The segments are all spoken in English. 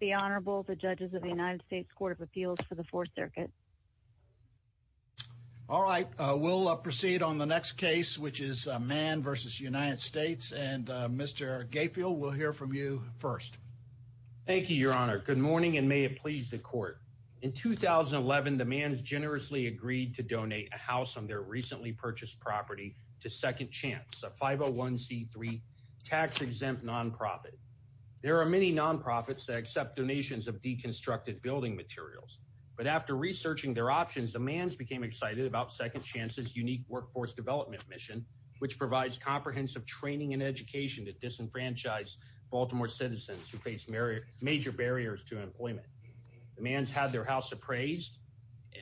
The Honorable, the judges of the United States Court of Appeals for the Fourth Circuit. All right, we'll proceed on the next case, which is Mann v. United States. And Mr. Gayfield, we'll hear from you first. Thank you, Your Honor. Good morning and may it please the Court. In 2011, the Manns generously agreed to donate a house on their recently purchased property to Second Chance, a 501c3 tax-exempt nonprofit. There are many nonprofits that accept donations of deconstructed building materials. But after researching their options, the Manns became excited about Second Chance's unique workforce development mission, which provides comprehensive training and education to disenfranchised Baltimore citizens who face major barriers to employment. The Manns had their house appraised,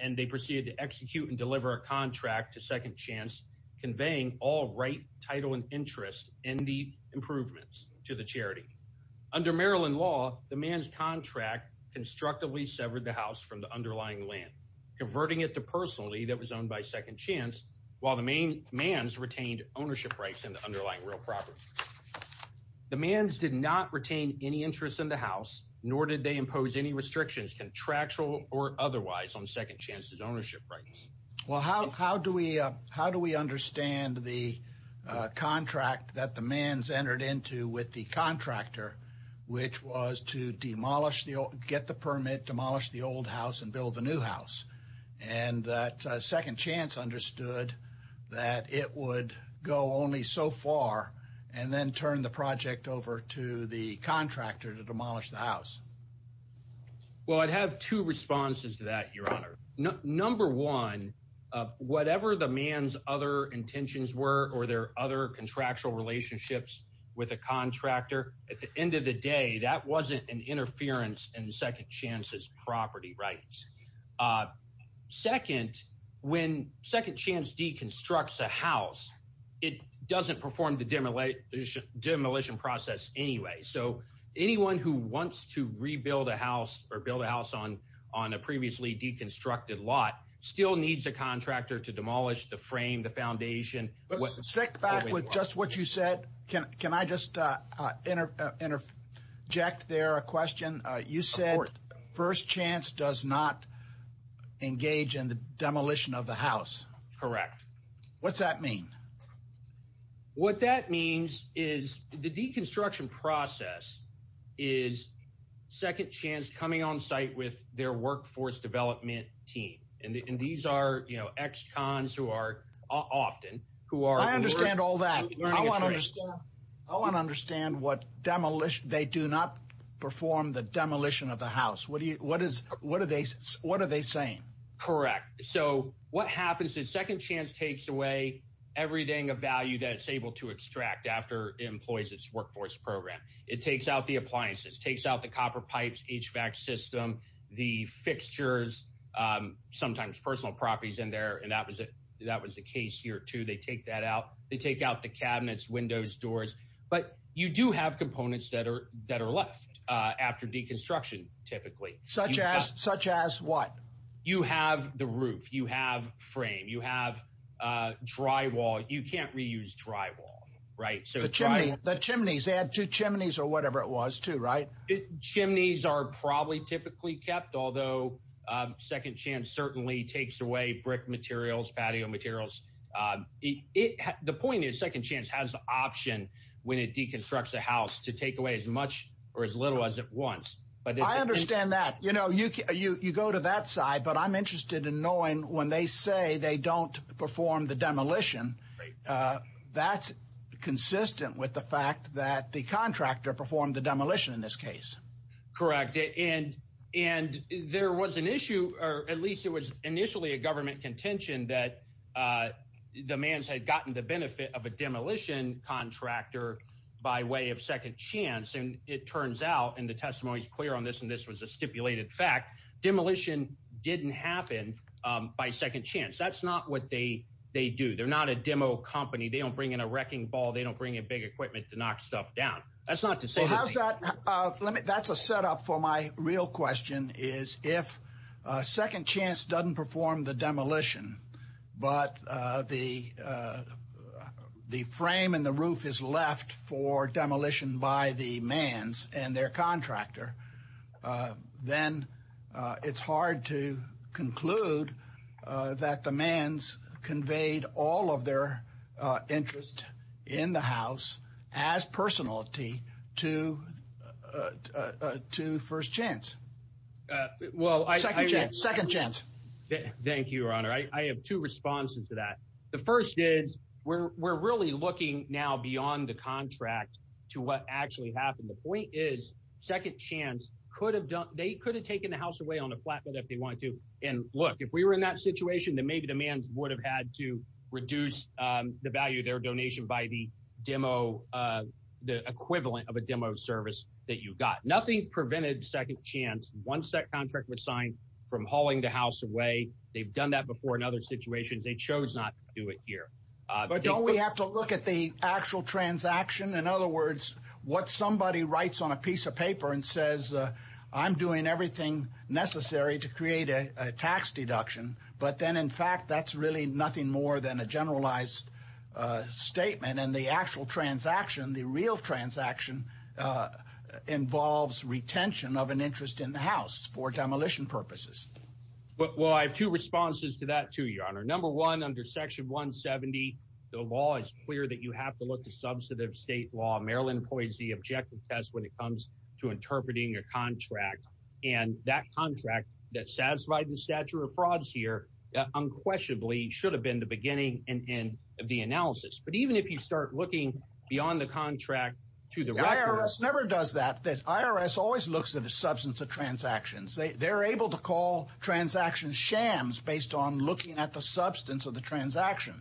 and they proceeded to execute and deliver a contract to Second Chance conveying all right, title, and interest in the improvements to the charity. Under Maryland law, the Manns' contract constructively severed the house from the underlying land, converting it to personally that was owned by Second Chance, while the Manns retained ownership rights in the underlying real property. The Manns did not retain any interest in the house, nor did they impose any restrictions, contractual or otherwise, on Second Chance's ownership rights. Well, how do we understand the contract that the Manns entered into with the contractor, which was to get the permit, demolish the old house, and build the new house, and that Second Chance understood that it would go only so far, and then turn the project over to the contractor to demolish the house? Well, I'd have two responses to that, Your Honor. Number one, whatever the Manns' other intentions were, or their other contractual relationships with the contractor, at the end of the day, that wasn't an interference in Second Chance's property rights. Second, when Second Chance deconstructs a house, it doesn't perform the demolition process anyway. So anyone who wants to rebuild a house or build a house on a previously deconstructed lot still needs a contractor to demolish the frame, the foundation. Stick back with just what you said. Can I just interject there a question? You said First Chance does not engage in the demolition of the house. Correct. What's that mean? What that means is the deconstruction process is Second Chance coming on site with their workforce development team, and these are ex-cons who are often— I understand all that. I want to understand what demolition— they do not perform the demolition of the house. What are they saying? Correct. So what happens is Second Chance takes away everything of value that it's able to extract after it employs its workforce program. It takes out the appliances, takes out the copper pipes, HVAC system, the fixtures, sometimes personal properties in there, and that was the case here, too. They take that out. They take out the cabinets, windows, doors. But you do have components that are left after deconstruction, typically. Such as what? You have the roof. You have frame. You have drywall. You can't reuse drywall, right? The chimneys. They had two chimneys or whatever it was, too, right? Chimneys are probably typically kept, although Second Chance certainly takes away brick materials, patio materials. The point is Second Chance has the option when it deconstructs a house to take away as much or as little as it wants. I understand that. You go to that side, but I'm interested in knowing when they say they don't perform the demolition, that's consistent with the fact that the contractor performed the demolition in this case. Correct. And there was an issue, or at least it was initially a government contention, that the man had gotten the benefit of a demolition contractor by way of Second Chance. And it turns out, and the testimony is clear on this, and this was a stipulated fact, demolition didn't happen by Second Chance. That's not what they do. They're not a demo company. They don't bring in a wrecking ball. They don't bring in big equipment to knock stuff down. That's not to say they didn't. That's a setup for my real question, is if Second Chance doesn't perform the demolition, but the frame and the roof is left for demolition by the mans and their contractor, then it's hard to conclude that the mans conveyed all of their interest in the house as personality to First Chance. Second Chance. Thank you, Your Honor. I have two responses to that. The first is, we're really looking now beyond the contract to what actually happened. The point is, Second Chance could have taken the house away on a flatbed if they wanted to. And look, if we were in that situation, then maybe the mans would have had to reduce the value of their donation by the equivalent of a demo service that you got. Nothing prevented Second Chance once that contract was signed from hauling the house away. They've done that before in other situations. They chose not to do it here. But don't we have to look at the actual transaction? In other words, what somebody writes on a piece of paper and says, I'm doing everything necessary to create a tax deduction. But then, in fact, that's really nothing more than a generalized statement. And the actual transaction, the real transaction involves retention of an interest in the house for demolition purposes. Well, I have two responses to that, too, Your Honor. Number one, under Section 170, the law is clear that you have to look to substantive state law. Maryland employs the objective test when it comes to interpreting your contract. And that contract that satisfied the stature of frauds here unquestionably should have been the beginning and end of the analysis. But even if you start looking beyond the contract to the records. IRS never does that. IRS always looks at the substance of transactions. They're able to call transactions shams based on looking at the substance of the transaction.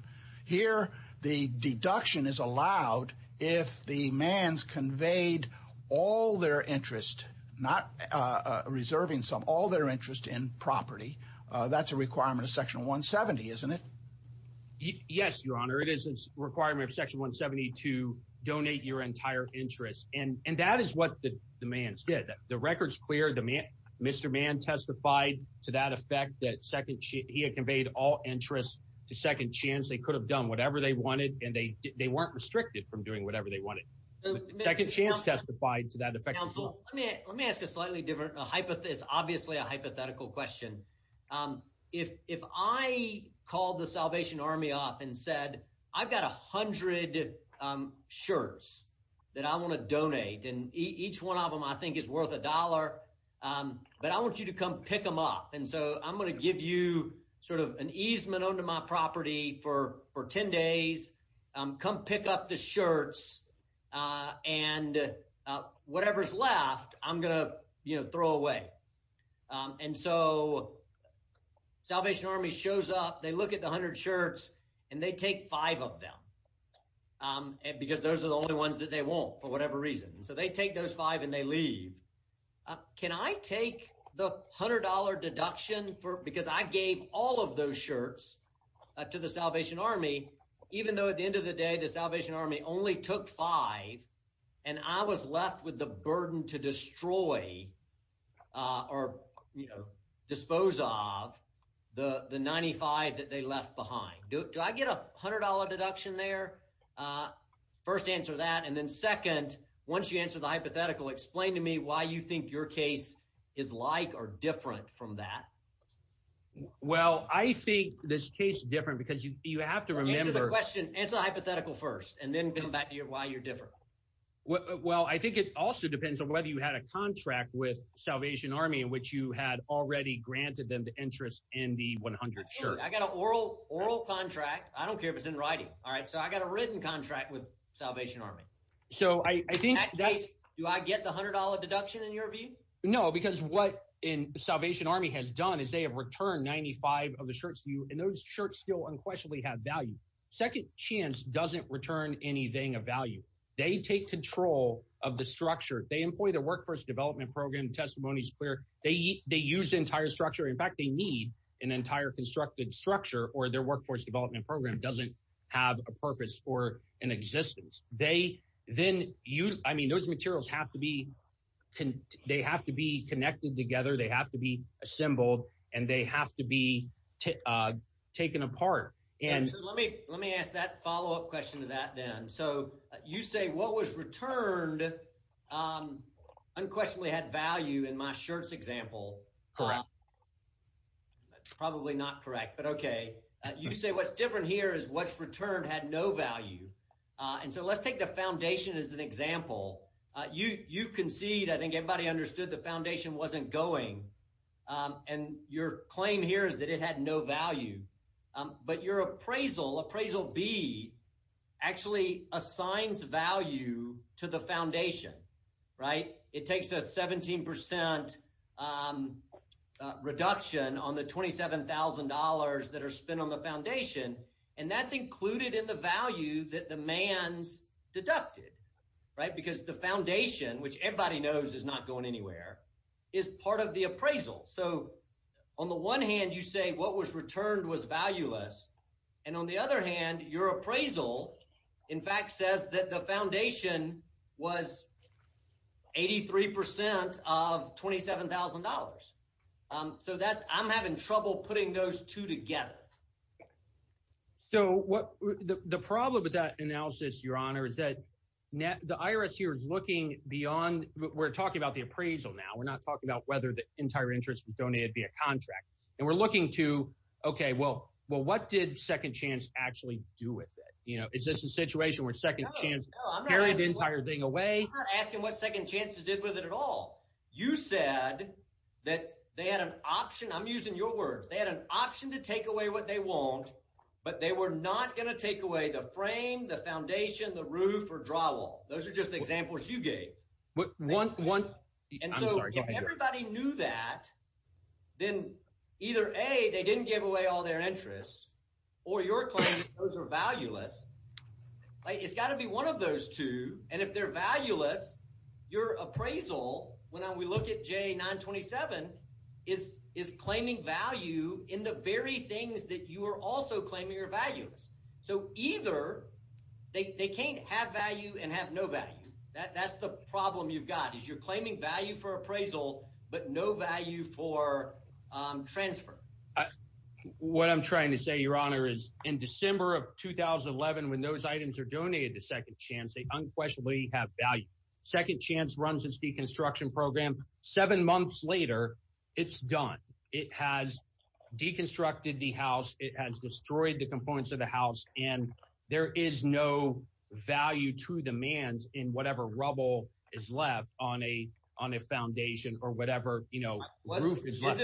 Here, the deduction is allowed if the man's conveyed all their interest, not reserving some, all their interest in property. That's a requirement of Section 170, isn't it? Yes, Your Honor. It is a requirement of Section 170 to donate your entire interest. And that is what the man said. The record's clear. Mr. Mann testified to that effect that he had conveyed all interest to second chance. They could have done whatever they wanted, and they weren't restricted from doing whatever they wanted. Second chance testified to that effect. Let me ask a slightly different hypothesis, obviously a hypothetical question. If I called the Salvation Army off and said, I've got 100 shirts that I want to donate, and each one of them I think is worth a dollar, but I want you to come pick them up. And so I'm going to give you sort of an easement onto my property for 10 days. Come pick up the shirts and whatever's left, I'm going to throw away. And so Salvation Army shows up, they look at the 100 shirts, and they take five of them, because those are the only ones that they want for whatever reason. So they take those five and they leave. Can I take the $100 deduction because I gave all of those shirts to the Salvation Army, even though at the end of the day the Salvation Army only took five and I was left with the burden to destroy or dispose of the 95 that they left behind. Do I get a $100 deduction there? First answer that, and then second, once you answer the hypothetical, explain to me why you think your case is like or different from that. Well, I think this case is different because you have to remember. Answer the question, answer the hypothetical first, and then come back to why you're different. Well, I think it also depends on whether you had a contract with Salvation Army in which you had already granted them the interest in the 100 shirts. I got an oral contract. I don't care if it's in writing. So I got a written contract with Salvation Army. Do I get the $100 deduction in your view? No, because what Salvation Army has done is they have returned 95 of the shirts to you, and those shirts still unquestionably have value. Second Chance doesn't return anything of value. They take control of the structure. They employ the Workforce Development Program, Testimonies Clear. They use the entire structure. In fact, they need an entire constructed structure or their Workforce Development Program doesn't have a purpose or an existence. They then use – I mean those materials have to be – they have to be connected together. They have to be assembled, and they have to be taken apart. So let me ask that follow-up question to that then. So you say what was returned unquestionably had value in my shirts example. Correct. That's probably not correct, but okay. You say what's different here is what's returned had no value. And so let's take the Foundation as an example. You concede – I think everybody understood the Foundation wasn't going, and your claim here is that it had no value. But your appraisal, Appraisal B, actually assigns value to the Foundation, right? It takes a 17% reduction on the $27,000 that are spent on the Foundation, and that's included in the value that the man's deducted, right? Because the Foundation, which everybody knows is not going anywhere, is part of the appraisal. So on the one hand, you say what was returned was valueless, and on the other hand, your appraisal in fact says that the Foundation was 83% of $27,000. So that's – I'm having trouble putting those two together. So the problem with that analysis, Your Honor, is that the IRS here is looking beyond – we're talking about the appraisal now. We're not talking about whether the entire interest was donated via contract. And we're looking to, okay, well, what did Second Chance actually do with it? Is this a situation where Second Chance carried the entire thing away? I'm not asking what Second Chance did with it at all. You said that they had an option – I'm using your words. They had an option to take away what they want, but they were not going to take away the frame, the Foundation, the roof, or draw wall. Those are just examples you gave. And so if everybody knew that, then either, A, they didn't give away all their interest, or you're claiming those are valueless. It's got to be one of those two, and if they're valueless, your appraisal, when we look at J927, is claiming value in the very things that you are also claiming are valueless. So either they can't have value and have no value. That's the problem you've got is you're claiming value for appraisal but no value for transfer. What I'm trying to say, Your Honor, is in December of 2011, when those items are donated to Second Chance, they unquestionably have value. Second Chance runs its deconstruction program. Seven months later, it's done. It has deconstructed the house. It has destroyed the components of the house, and there is no value to the man in whatever rubble is left on a foundation or whatever roof is left.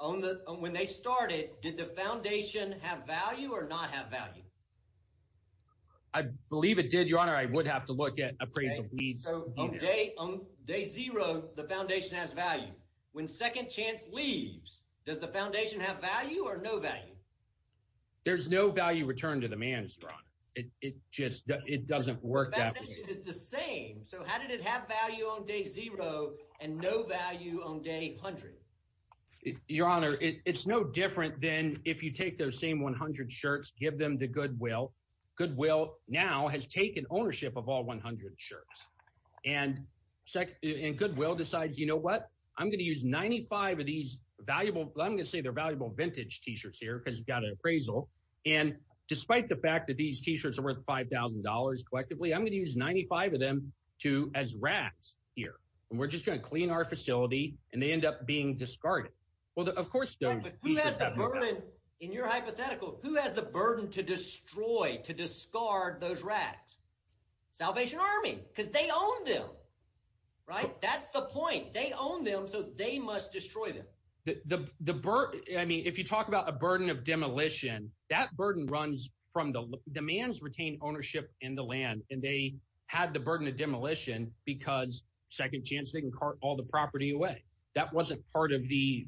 When they started, did the Foundation have value or not have value? I believe it did, Your Honor. I would have to look at appraisal fees. So on day zero, the Foundation has value. When Second Chance leaves, does the Foundation have value or no value? There's no value returned to the man, Your Honor. It just doesn't work that way. The Foundation is the same. So how did it have value on day zero and no value on day 100? Your Honor, it's no different than if you take those same 100 shirts, give them to Goodwill. Goodwill now has taken ownership of all 100 shirts. And Goodwill decides, you know what, I'm going to use 95 of these valuable – I'm going to say they're valuable vintage T-shirts here because you've got an appraisal. And despite the fact that these T-shirts are worth $5,000 collectively, I'm going to use 95 of them as racks here. And we're just going to clean our facility, and they end up being discarded. Well, of course those T-shirts have no value. But who has the burden in your hypothetical? Who has the burden to destroy, to discard those racks? Salvation Army because they own them, right? That's the point. They own them, so they must destroy them. The – I mean if you talk about a burden of demolition, that burden runs from the – the man's retained ownership in the land, and they had the burden of demolition because Second Chance didn't cart all the property away. That wasn't part of the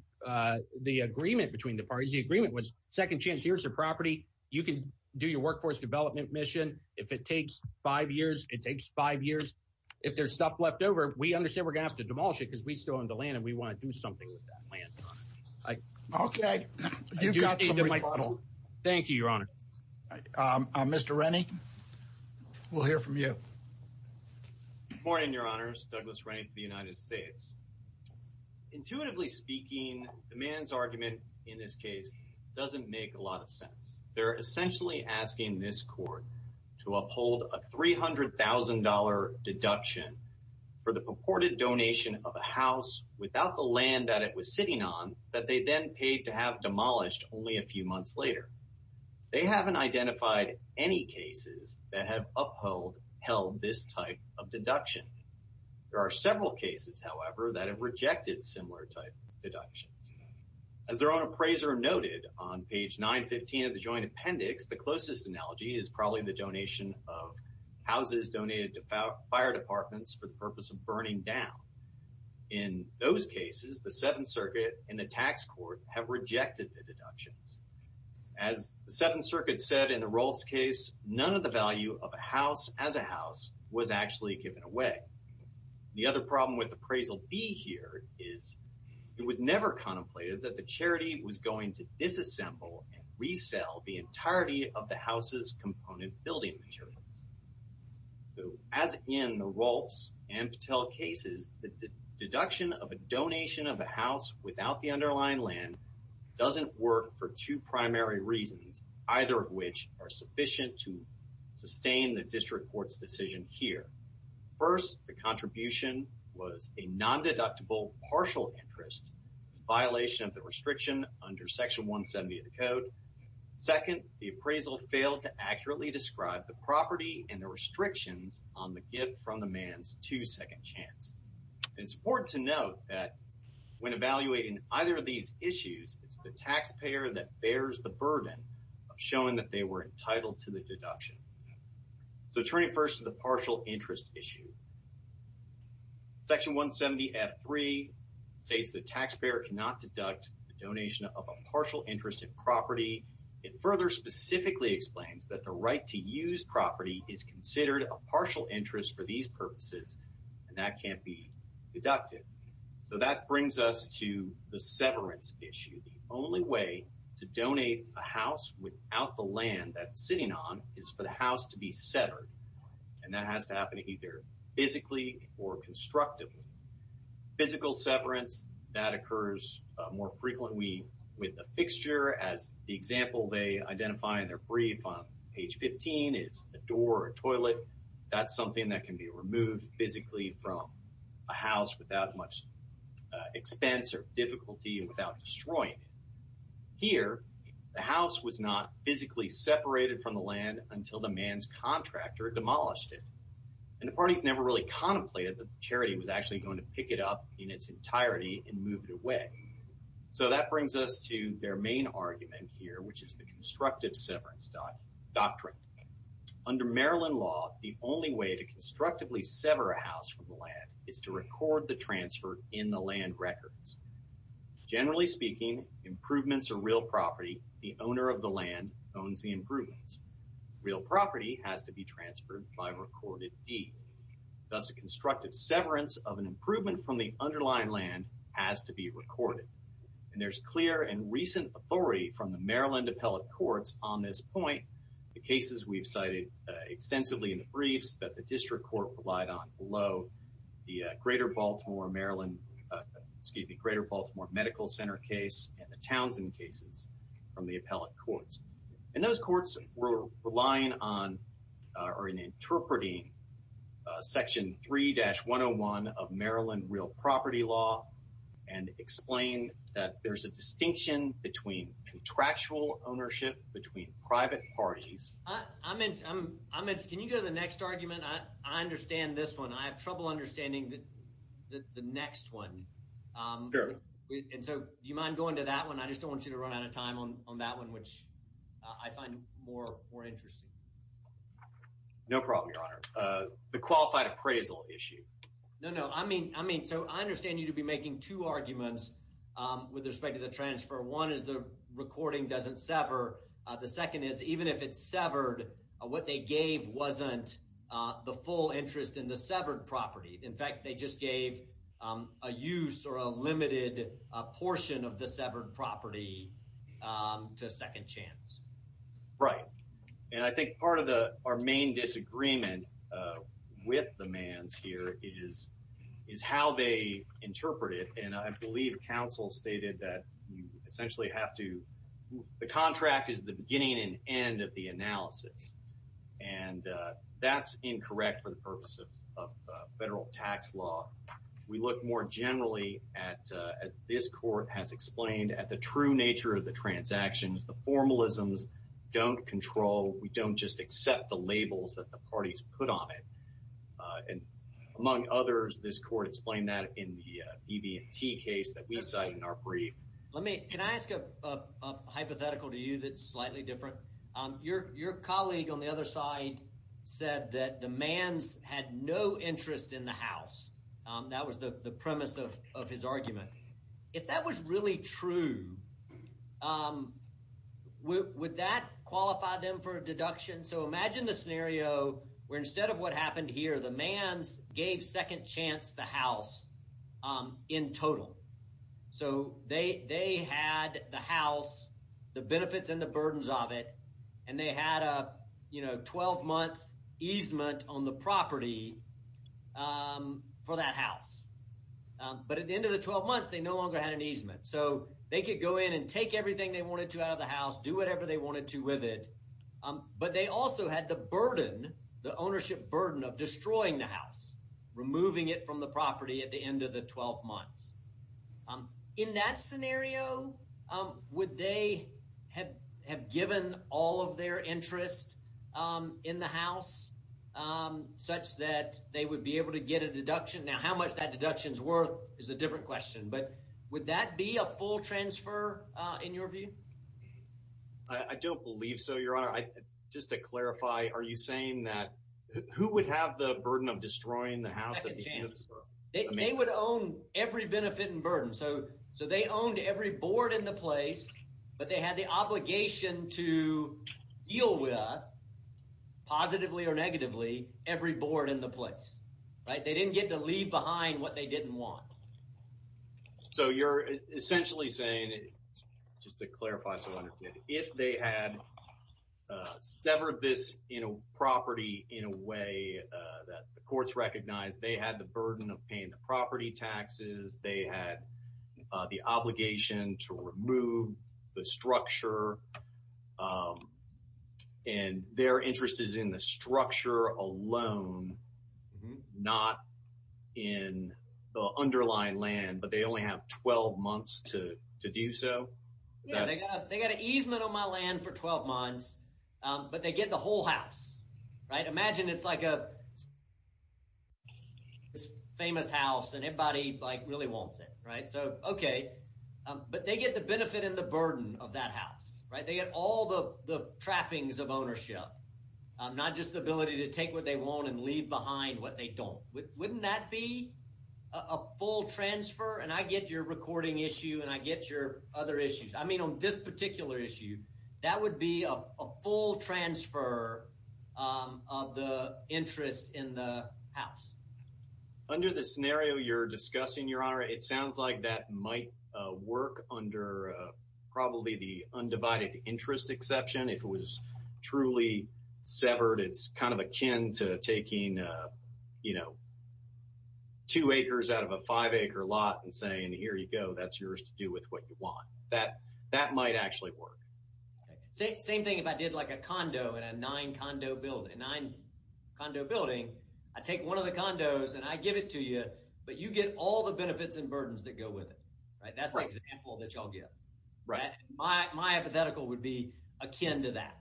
agreement between the parties. The agreement was Second Chance, here's the property. You can do your workforce development mission. If it takes five years, it takes five years. If there's stuff left over, we understand we're going to have to demolish it because we still own the land, and we want to do something with that land. Okay. You've got some rebuttal. Thank you, Your Honor. Mr. Rennie, we'll hear from you. Good morning, Your Honors. Douglas Rennie for the United States. Intuitively speaking, the man's argument in this case doesn't make a lot of sense. They're essentially asking this court to uphold a $300,000 deduction for the purported donation of a house without the land that it was sitting on that they then paid to have demolished only a few months later. They haven't identified any cases that have upheld this type of deduction. There are several cases, however, that have rejected similar type deductions. As their own appraiser noted on page 915 of the Joint Appendix, the closest analogy is probably the donation of houses donated to fire departments for the purpose of burning down. In those cases, the Seventh Circuit and the tax court have rejected the deductions. As the Seventh Circuit said in the Rolfes case, none of the value of a house as a house was actually given away. The other problem with Appraisal B here is it was never contemplated that the charity was going to disassemble and resell the entirety of the house's component building materials. As in the Rolfes and Patel cases, the deduction of a donation of a house without the underlying land doesn't work for two primary reasons, either of which are sufficient to sustain the district court's decision here. First, the contribution was a non-deductible partial interest in violation of the restriction under Section 170 of the Code. Second, the appraisal failed to accurately describe the property and the restrictions on the gift from the man's two-second chance. It's important to note that when evaluating either of these issues, it's the taxpayer that bears the burden of showing that they were entitled to the deduction. So turning first to the partial interest issue, Section 170F3 states the taxpayer cannot deduct the donation of a partial interest in property and further specifically explains that the right to use property is considered a partial interest for these purposes, and that can't be deducted. So that brings us to the severance issue. The only way to donate a house without the land that it's sitting on is for the house to be severed, and that has to happen either physically or constructively. Physical severance, that occurs more frequently with a fixture. As the example they identify in their brief on page 15 is a door or a toilet. That's something that can be removed physically from a house without much expense or difficulty and without destroying it. Here, the house was not physically separated from the land until the man's contractor demolished it, and the parties never really contemplated that the charity was actually going to pick it up in its entirety and move it away. So that brings us to their main argument here, which is the constructive severance doctrine. Under Maryland law, the only way to constructively sever a house from the land is to record the transfer in the land records. Generally speaking, improvements are real property. The owner of the land owns the improvements. Real property has to be transferred by recorded deed. Thus, a constructive severance of an improvement from the underlying land has to be recorded. And there's clear and recent authority from the Maryland Appellate Courts on this point. The cases we've cited extensively in the briefs that the District Court relied on below, the Greater Baltimore Medical Center case and the Townsend cases from the Appellate Courts. And those courts were relying on or interpreting Section 3-101 of Maryland real property law and explained that there's a distinction between contractual ownership between private parties. Can you go to the next argument? I understand this one. I have trouble understanding the next one. Sure. And so do you mind going to that one? I just don't want you to run out of time on that one, which I find more interesting. No problem, Your Honor. The qualified appraisal issue. No, no. I mean, so I understand you to be making two arguments with respect to the transfer. One is the recording doesn't sever. The second is even if it's severed, what they gave wasn't the full interest in the severed property. In fact, they just gave a use or a limited portion of the severed property to second chance. Right. And I think part of our main disagreement with the Manns here is how they interpret it. And I believe counsel stated that you essentially have to—the contract is the beginning and end of the analysis. And that's incorrect for the purpose of federal tax law. We look more generally at, as this court has explained, at the true nature of the transactions. The formalisms don't control. We don't just accept the labels that the parties put on it. And among others, this court explained that in the BB&T case that we cited in our brief. Let me—can I ask a hypothetical to you that's slightly different? Your colleague on the other side said that the Manns had no interest in the house. That was the premise of his argument. If that was really true, would that qualify them for a deduction? So imagine the scenario where instead of what happened here, the Manns gave second chance the house in total. So they had the house, the benefits and the burdens of it, and they had a 12-month easement on the property for that house. But at the end of the 12 months, they no longer had an easement. So they could go in and take everything they wanted to out of the house, do whatever they wanted to with it. But they also had the burden, the ownership burden of destroying the house, removing it from the property at the end of the 12 months. In that scenario, would they have given all of their interest in the house such that they would be able to get a deduction? Now, how much that deduction is worth is a different question. But would that be a full transfer in your view? I don't believe so, Your Honor. Just to clarify, are you saying that who would have the burden of destroying the house at the end of the 12 months? They would own every benefit and burden. So they owned every board in the place, but they had the obligation to deal with, positively or negatively, every board in the place. They didn't get to leave behind what they didn't want. So you're essentially saying, just to clarify so I understand, if they had severed this property in a way that the courts recognized, they had the burden of paying the property taxes, they had the obligation to remove the structure, and their interest is in the structure alone, not in the underlying land, but they only have 12 months to do so? Yeah, they got an easement on my land for 12 months, but they get the whole house. Imagine it's like a famous house, and everybody really wants it. But they get the benefit and the burden of that house. They get all the trappings of ownership, not just the ability to take what they want and leave behind what they don't. Wouldn't that be a full transfer? And I get your recording issue, and I get your other issues. I mean on this particular issue, that would be a full transfer of the interest in the house. Under the scenario you're discussing, Your Honor, it sounds like that might work under probably the undivided interest exception. If it was truly severed, it's kind of akin to taking two acres out of a five-acre lot and saying, here you go, that's yours to do with what you want. That might actually work. Same thing if I did like a condo in a nine-condo building. I take one of the condos, and I give it to you, but you get all the benefits and burdens that go with it. That's the example that you'll get. My hypothetical would be akin to that.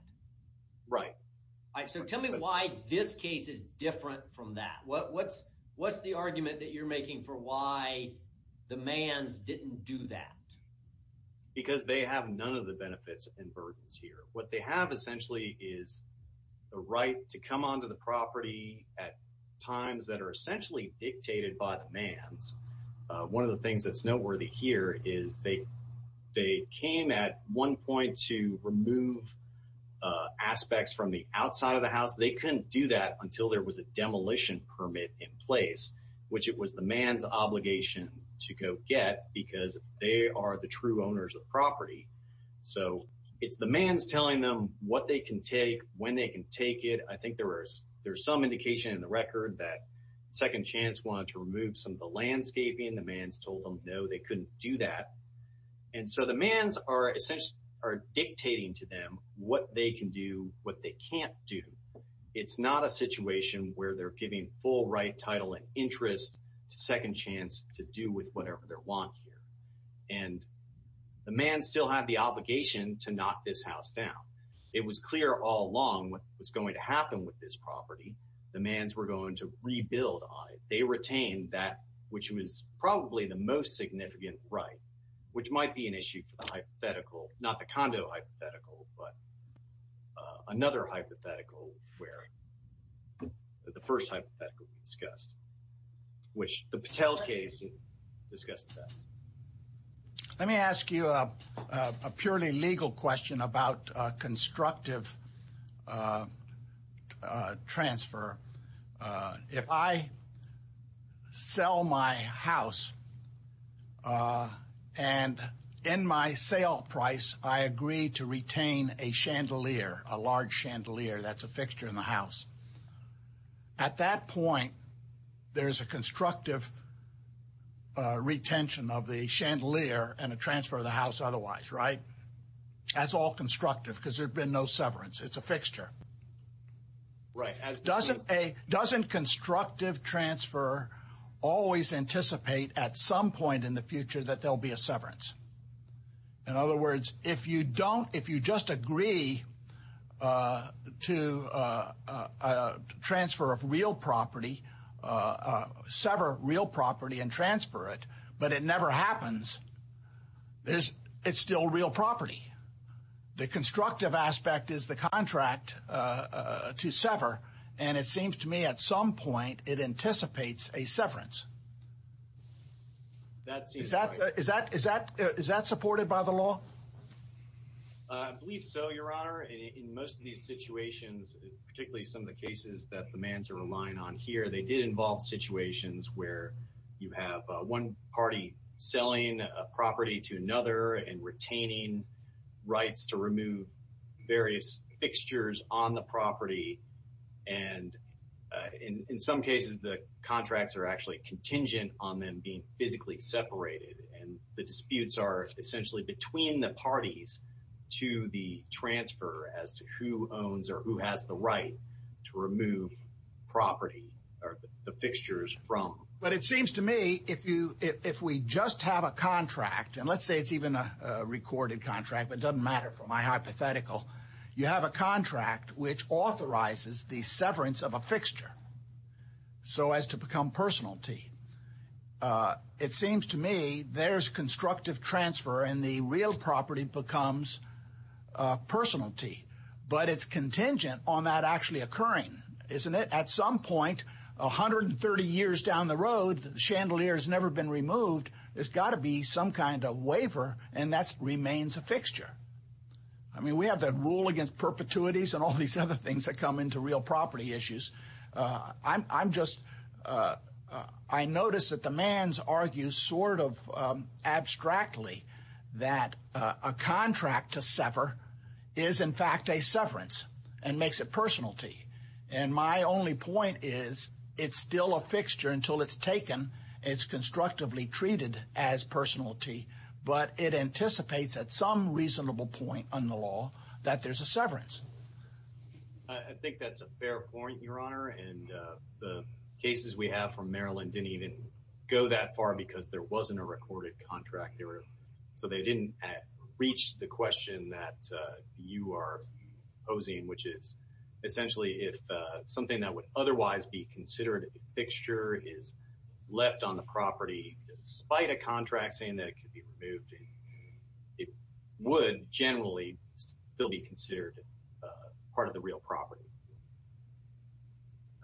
So tell me why this case is different from that. What's the argument that you're making for why the Manns didn't do that? Because they have none of the benefits and burdens here. What they have essentially is the right to come onto the property at times that are essentially dictated by the Manns. One of the things that's noteworthy here is they came at one point to remove aspects from the outside of the house. They couldn't do that until there was a demolition permit in place, which it was the Manns' obligation to go get because they are the true owners of property. So it's the Manns telling them what they can take, when they can take it. I think there's some indication in the record that Second Chance wanted to remove some of the landscaping. The Manns told them, no, they couldn't do that. And so the Manns are essentially dictating to them what they can do, what they can't do. It's not a situation where they're giving full right, title, and interest to Second Chance to do with whatever they want here. And the Manns still have the obligation to knock this house down. It was clear all along what was going to happen with this property. The Manns were going to rebuild on it. They retained that, which was probably the most significant right, which might be an issue for the hypothetical. Not the condo hypothetical, but another hypothetical where the first hypothetical discussed, which the Patel case discussed that. Let me ask you a purely legal question about constructive transfer. If I sell my house and in my sale price, I agree to retain a chandelier, a large chandelier that's a fixture in the house. At that point, there's a constructive retention of the chandelier and a transfer of the house otherwise, right? That's all constructive because there's been no severance. It's a fixture. Right. Doesn't a, doesn't constructive transfer always anticipate at some point in the future that there'll be a severance? In other words, if you don't, if you just agree to a transfer of real property, sever real property and transfer it, but it never happens, it's still real property. The constructive aspect is the contract to sever. And it seems to me at some point it anticipates a severance. Is that is that is that is that supported by the law? I believe so, Your Honor. And in most of these situations, particularly some of the cases that the man's are relying on here, they did involve situations where you have one party selling a property to another and retaining rights to remove various fixtures on the property. And in some cases, the contracts are actually contingent on them being physically separated. And the disputes are essentially between the parties to the transfer as to who owns or who has the right to remove property or the fixtures from. But it seems to me if you if we just have a contract and let's say it's even a recorded contract, it doesn't matter for my hypothetical. You have a contract which authorizes the severance of a fixture. So as to become personality, it seems to me there's constructive transfer and the real property becomes personality. But it's contingent on that actually occurring, isn't it? At some point, 130 years down the road, the chandelier has never been removed. There's got to be some kind of waiver. And that remains a fixture. I mean, we have that rule against perpetuities and all these other things that come into real property issues. I'm just I notice that the man's argues sort of abstractly that a contract to sever is, in fact, a severance and makes it personality. And my only point is it's still a fixture until it's taken. It's constructively treated as personality. But it anticipates at some reasonable point on the law that there's a severance. I think that's a fair point, Your Honor. And the cases we have from Maryland didn't even go that far because there wasn't a recorded contract there. So they didn't reach the question that you are posing, which is essentially if something that would otherwise be considered a fixture is left on the property, despite a contract saying that it could be removed, it would generally still be considered part of the real property.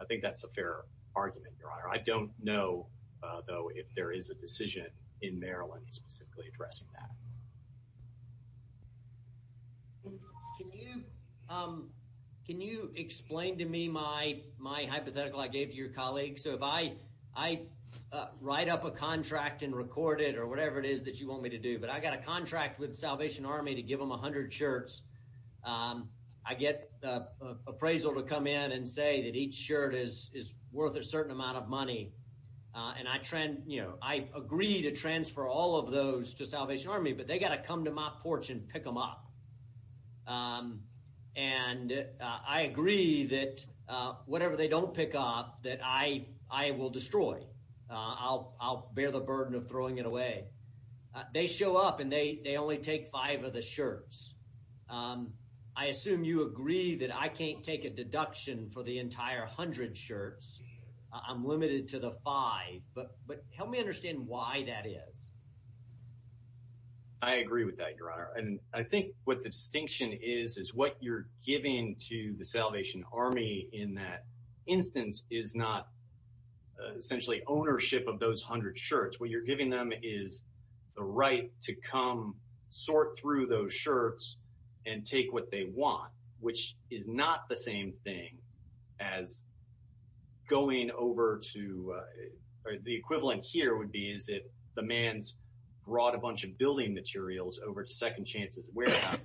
I think that's a fair argument, Your Honor. I don't know, though, if there is a decision in Maryland specifically addressing that. Can you explain to me my hypothetical I gave to your colleague? So if I write up a contract and record it or whatever it is that you want me to do, but I got a contract with Salvation Army to give them 100 shirts, I get appraisal to come in and say that each shirt is worth a certain amount of money. And I agree to transfer all of those to Salvation Army, but they got to come to my porch and pick them up. And I agree that whatever they don't pick up that I will destroy. I'll bear the burden of throwing it away. They show up and they only take five of the shirts. I assume you agree that I can't take a deduction for the entire 100 shirts. I'm limited to the five. But help me understand why that is. I agree with that, Your Honor. And I think what the distinction is, is what you're giving to the Salvation Army in that instance is not essentially ownership of those 100 shirts. What you're giving them is the right to come sort through those shirts and take what they want, which is not the same thing as going over to the equivalent here would be, is it the man's brought a bunch of building materials over to Second Chance's warehouse.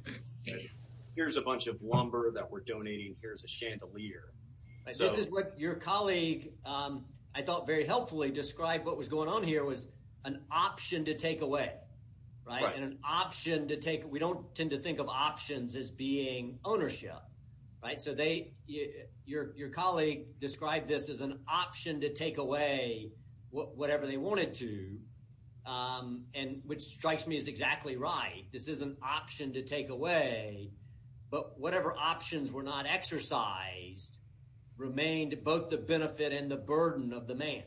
Here's a bunch of lumber that we're donating. Here's a chandelier. This is what your colleague, I thought, very helpfully described what was going on here was an option to take away. Right. An option to take. We don't tend to think of options as being ownership. Right. So they your colleague described this as an option to take away whatever they wanted to. And which strikes me as exactly right. This is an option to take away. But whatever options were not exercised remained both the benefit and the burden of the man.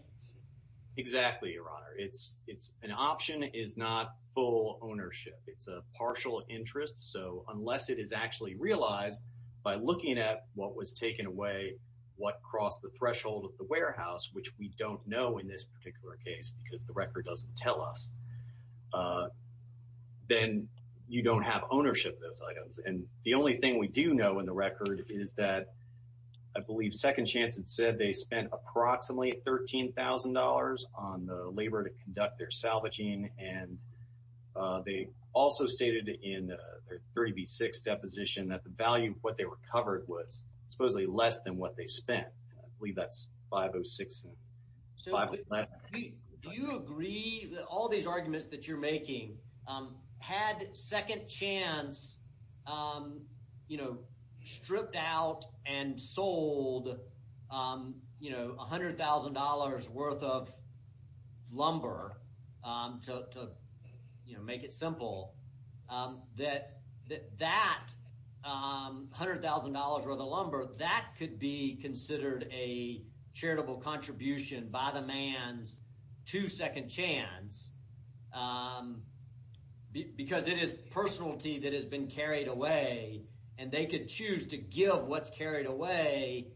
Exactly, Your Honor. It's an option is not full ownership. It's a partial interest. So unless it is actually realized by looking at what was taken away, what crossed the threshold of the warehouse, which we don't know in this particular case because the record doesn't tell us, then you don't have ownership of those items. And the only thing we do know in the record is that I believe Second Chance had said they spent approximately $13,000 on the labor to conduct their salvaging. And they also stated in their 30B6 deposition that the value of what they recovered was supposedly less than what they spent. I believe that's 506. Do you agree that all these arguments that you're making had Second Chance, you know, stripped out and sold, you know, $100,000 worth of lumber to make it simple that that $100,000 worth of lumber, that could be considered a charitable contribution by the man's to Second Chance because it is personality that has been carried away and they could choose to give what's carried away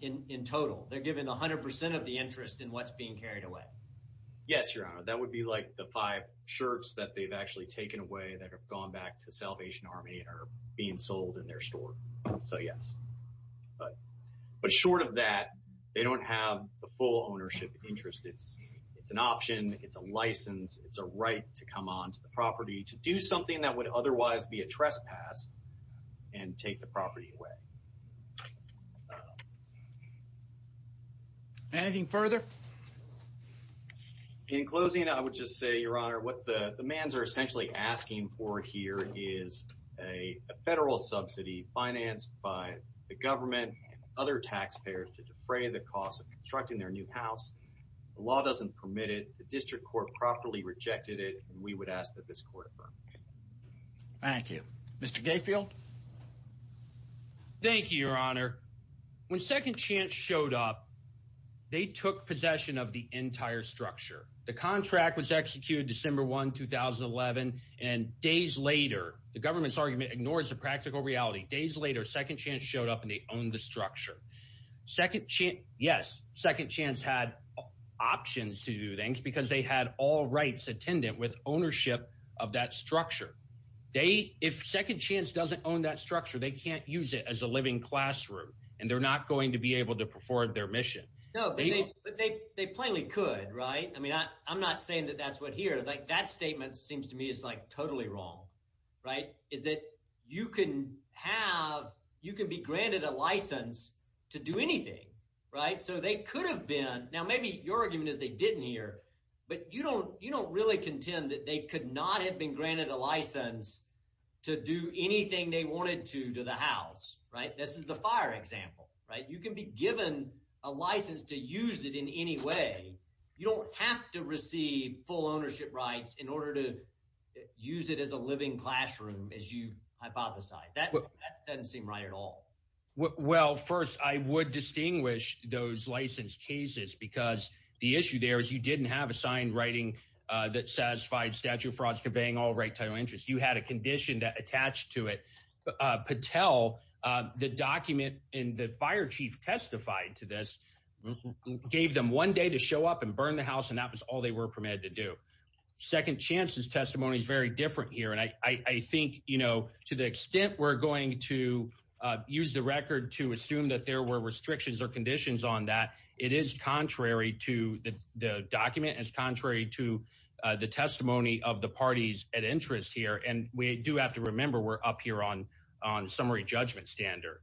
in total. They're given 100% of the interest in what's being carried away. Yes, Your Honor. That would be like the five shirts that they've actually taken away that have gone back to Salvation Army and are being sold in their store. So yes. But short of that, they don't have the full ownership interest. It's an option. It's a license. It's a right to come onto the property to do something that would otherwise be a trespass and take the property away. Anything further? In closing, I would just say, Your Honor, what the man's are essentially asking for here is a federal subsidy financed by the government, other taxpayers to defray the cost of constructing their new house. The law doesn't permit it. The district court properly rejected it. We would ask that this court affirm. Mr. Gayfield. Thank you, Your Honor. When Second Chance showed up, they took possession of the entire structure. The contract was executed December 1, 2011, and days later, the government's argument ignores the practical reality. Days later, Second Chance showed up, and they owned the structure. Yes, Second Chance had options to do things because they had all rights attendant with ownership of that structure. If Second Chance doesn't own that structure, they can't use it as a living classroom, and they're not going to be able to perform their mission. No, but they plainly could, right? I mean I'm not saying that that's what here. That statement seems to me is like totally wrong, right, is that you can have – you can be granted a license to do anything, right? So they could have been – now maybe your argument is they didn't here, but you don't really contend that they could not have been granted a license to do anything they wanted to to the house, right? This is the fire example, right? You can be given a license to use it in any way. You don't have to receive full ownership rights in order to use it as a living classroom as you hypothesized. That doesn't seem right at all. Well, first I would distinguish those license cases because the issue there is you didn't have a signed writing that satisfied statute of frauds conveying all right title interests. You had a condition that attached to it. Patel, the document, and the fire chief testified to this, gave them one day to show up and burn the house, and that was all they were permitted to do. Second chance's testimony is very different here, and I think to the extent we're going to use the record to assume that there were restrictions or conditions on that, it is contrary to the document. It's contrary to the testimony of the parties at interest here, and we do have to remember we're up here on summary judgment standard.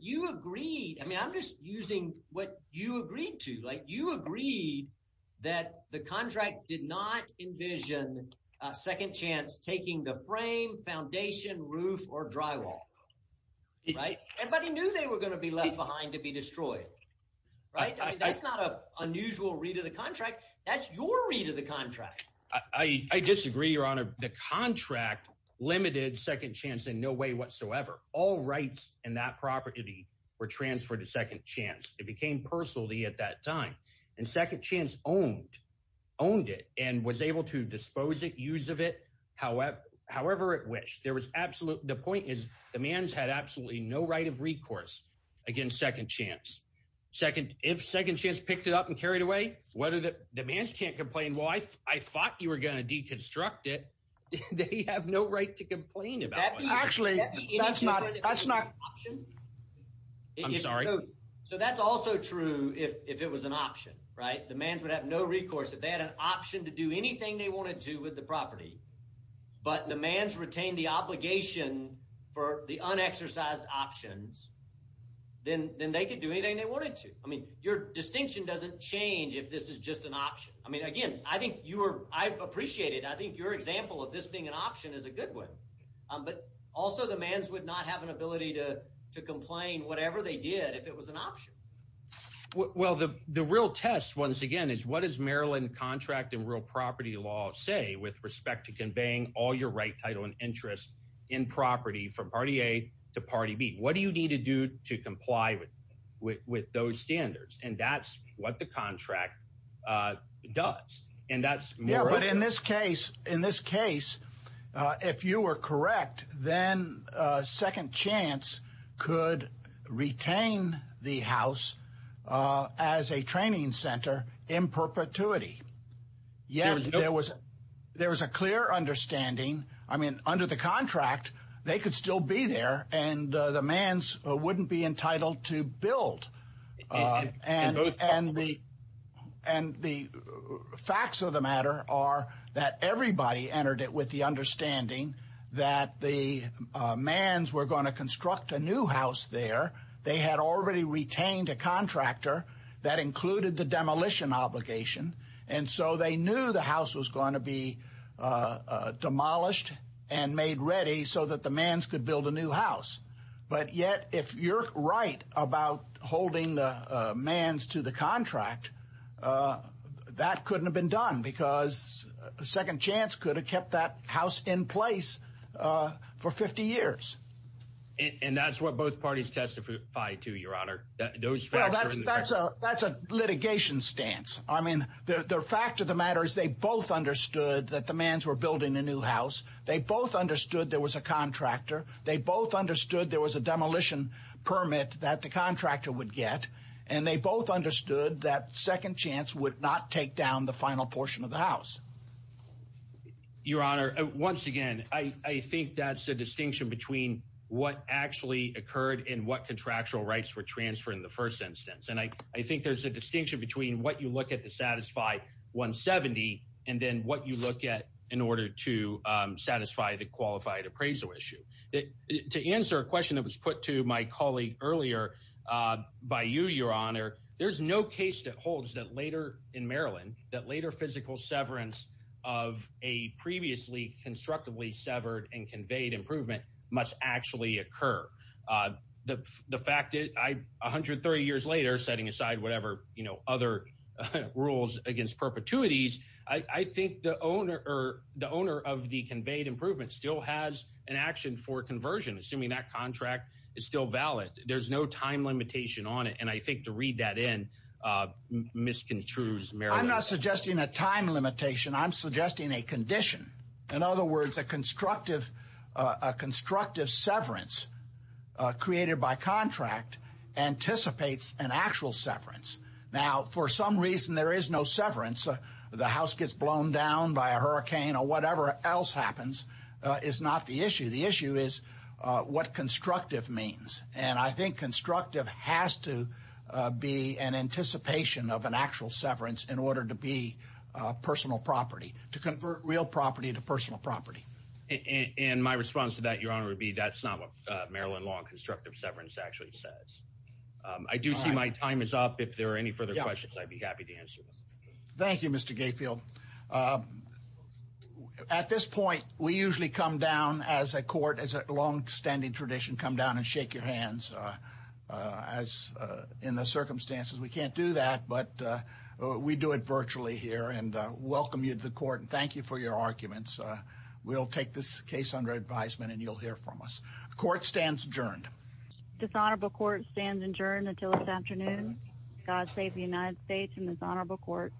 You agreed – I mean I'm just using what you agreed to. Like you agreed that the contract did not envision a second chance taking the frame, foundation, roof, or drywall, right? Everybody knew they were going to be left behind to be destroyed, right? That's not an unusual read of the contract. That's your read of the contract. I disagree, Your Honor. The contract limited second chance in no way whatsoever. All rights in that property were transferred to second chance. It became personality at that time, and second chance owned it and was able to dispose it, use of it however it wished. There was absolute – the point is the mans had absolutely no right of recourse against second chance. If second chance picked it up and carried away, the mans can't complain, well, I thought you were going to deconstruct it. They have no right to complain about it. Actually, that's not – that's not – I'm sorry. So that's also true if it was an option, right? The mans would have no recourse. If they had an option to do anything they wanted to with the property but the mans retained the obligation for the unexercised options, then they could do anything they wanted to. I mean your distinction doesn't change if this is just an option. I mean again, I think you were – I appreciate it. I think your example of this being an option is a good one, but also the mans would not have an ability to complain whatever they did if it was an option. Well, the real test once again is what does Maryland contract and real property law say with respect to conveying all your right, title and interest in property from party A to party B? What do you need to do to comply with those standards? And that's what the contract does. Yeah, but in this case, if you were correct, then Second Chance could retain the house as a training center in perpetuity. Yet there was a clear understanding – I mean under the contract, they could still be there and the mans wouldn't be entitled to build. And the facts of the matter are that everybody entered it with the understanding that the mans were going to construct a new house there. They had already retained a contractor that included the demolition obligation, and so they knew the house was going to be demolished and made ready so that the mans could build a new house. But yet, if you're right about holding the mans to the contract, that couldn't have been done because Second Chance could have kept that house in place for 50 years. And that's what both parties testified to, Your Honor. Well, that's a litigation stance. I mean, the fact of the matter is they both understood that the mans were building a new house. They both understood there was a contractor. They both understood there was a demolition permit that the contractor would get. And they both understood that Second Chance would not take down the final portion of the house. Your Honor, once again, I think that's a distinction between what actually occurred and what contractual rights were transferred in the first instance. And I think there's a distinction between what you look at to satisfy 170 and then what you look at in order to satisfy the qualified appraisal issue. To answer a question that was put to my colleague earlier by you, Your Honor, there's no case that holds that later in Maryland, that later physical severance of a previously constructively severed and conveyed improvement must actually occur. The fact that 130 years later, setting aside whatever other rules against perpetuities, I think the owner of the conveyed improvement still has an action for conversion, assuming that contract is still valid. There's no time limitation on it. And I think to read that in misconstrues Maryland. I'm not suggesting a time limitation. I'm suggesting a condition. In other words, a constructive severance created by contract anticipates an actual severance. Now, for some reason, there is no severance. The house gets blown down by a hurricane or whatever else happens is not the issue. The issue is what constructive means. And I think constructive has to be an anticipation of an actual severance in order to be personal property to convert real property to personal property. And my response to that, Your Honor, would be that's not what Maryland law and constructive severance actually says. I do see my time is up. If there are any further questions, I'd be happy to answer. Thank you, Mr. Gatefield. At this point, we usually come down as a court, as a longstanding tradition, come down and shake your hands as in the circumstances. We can't do that, but we do it virtually here and welcome you to the court. And thank you for your arguments. We'll take this case under advisement and you'll hear from us. Court stands adjourned. Dishonorable court stands adjourned until this afternoon. God save the United States and dishonorable court.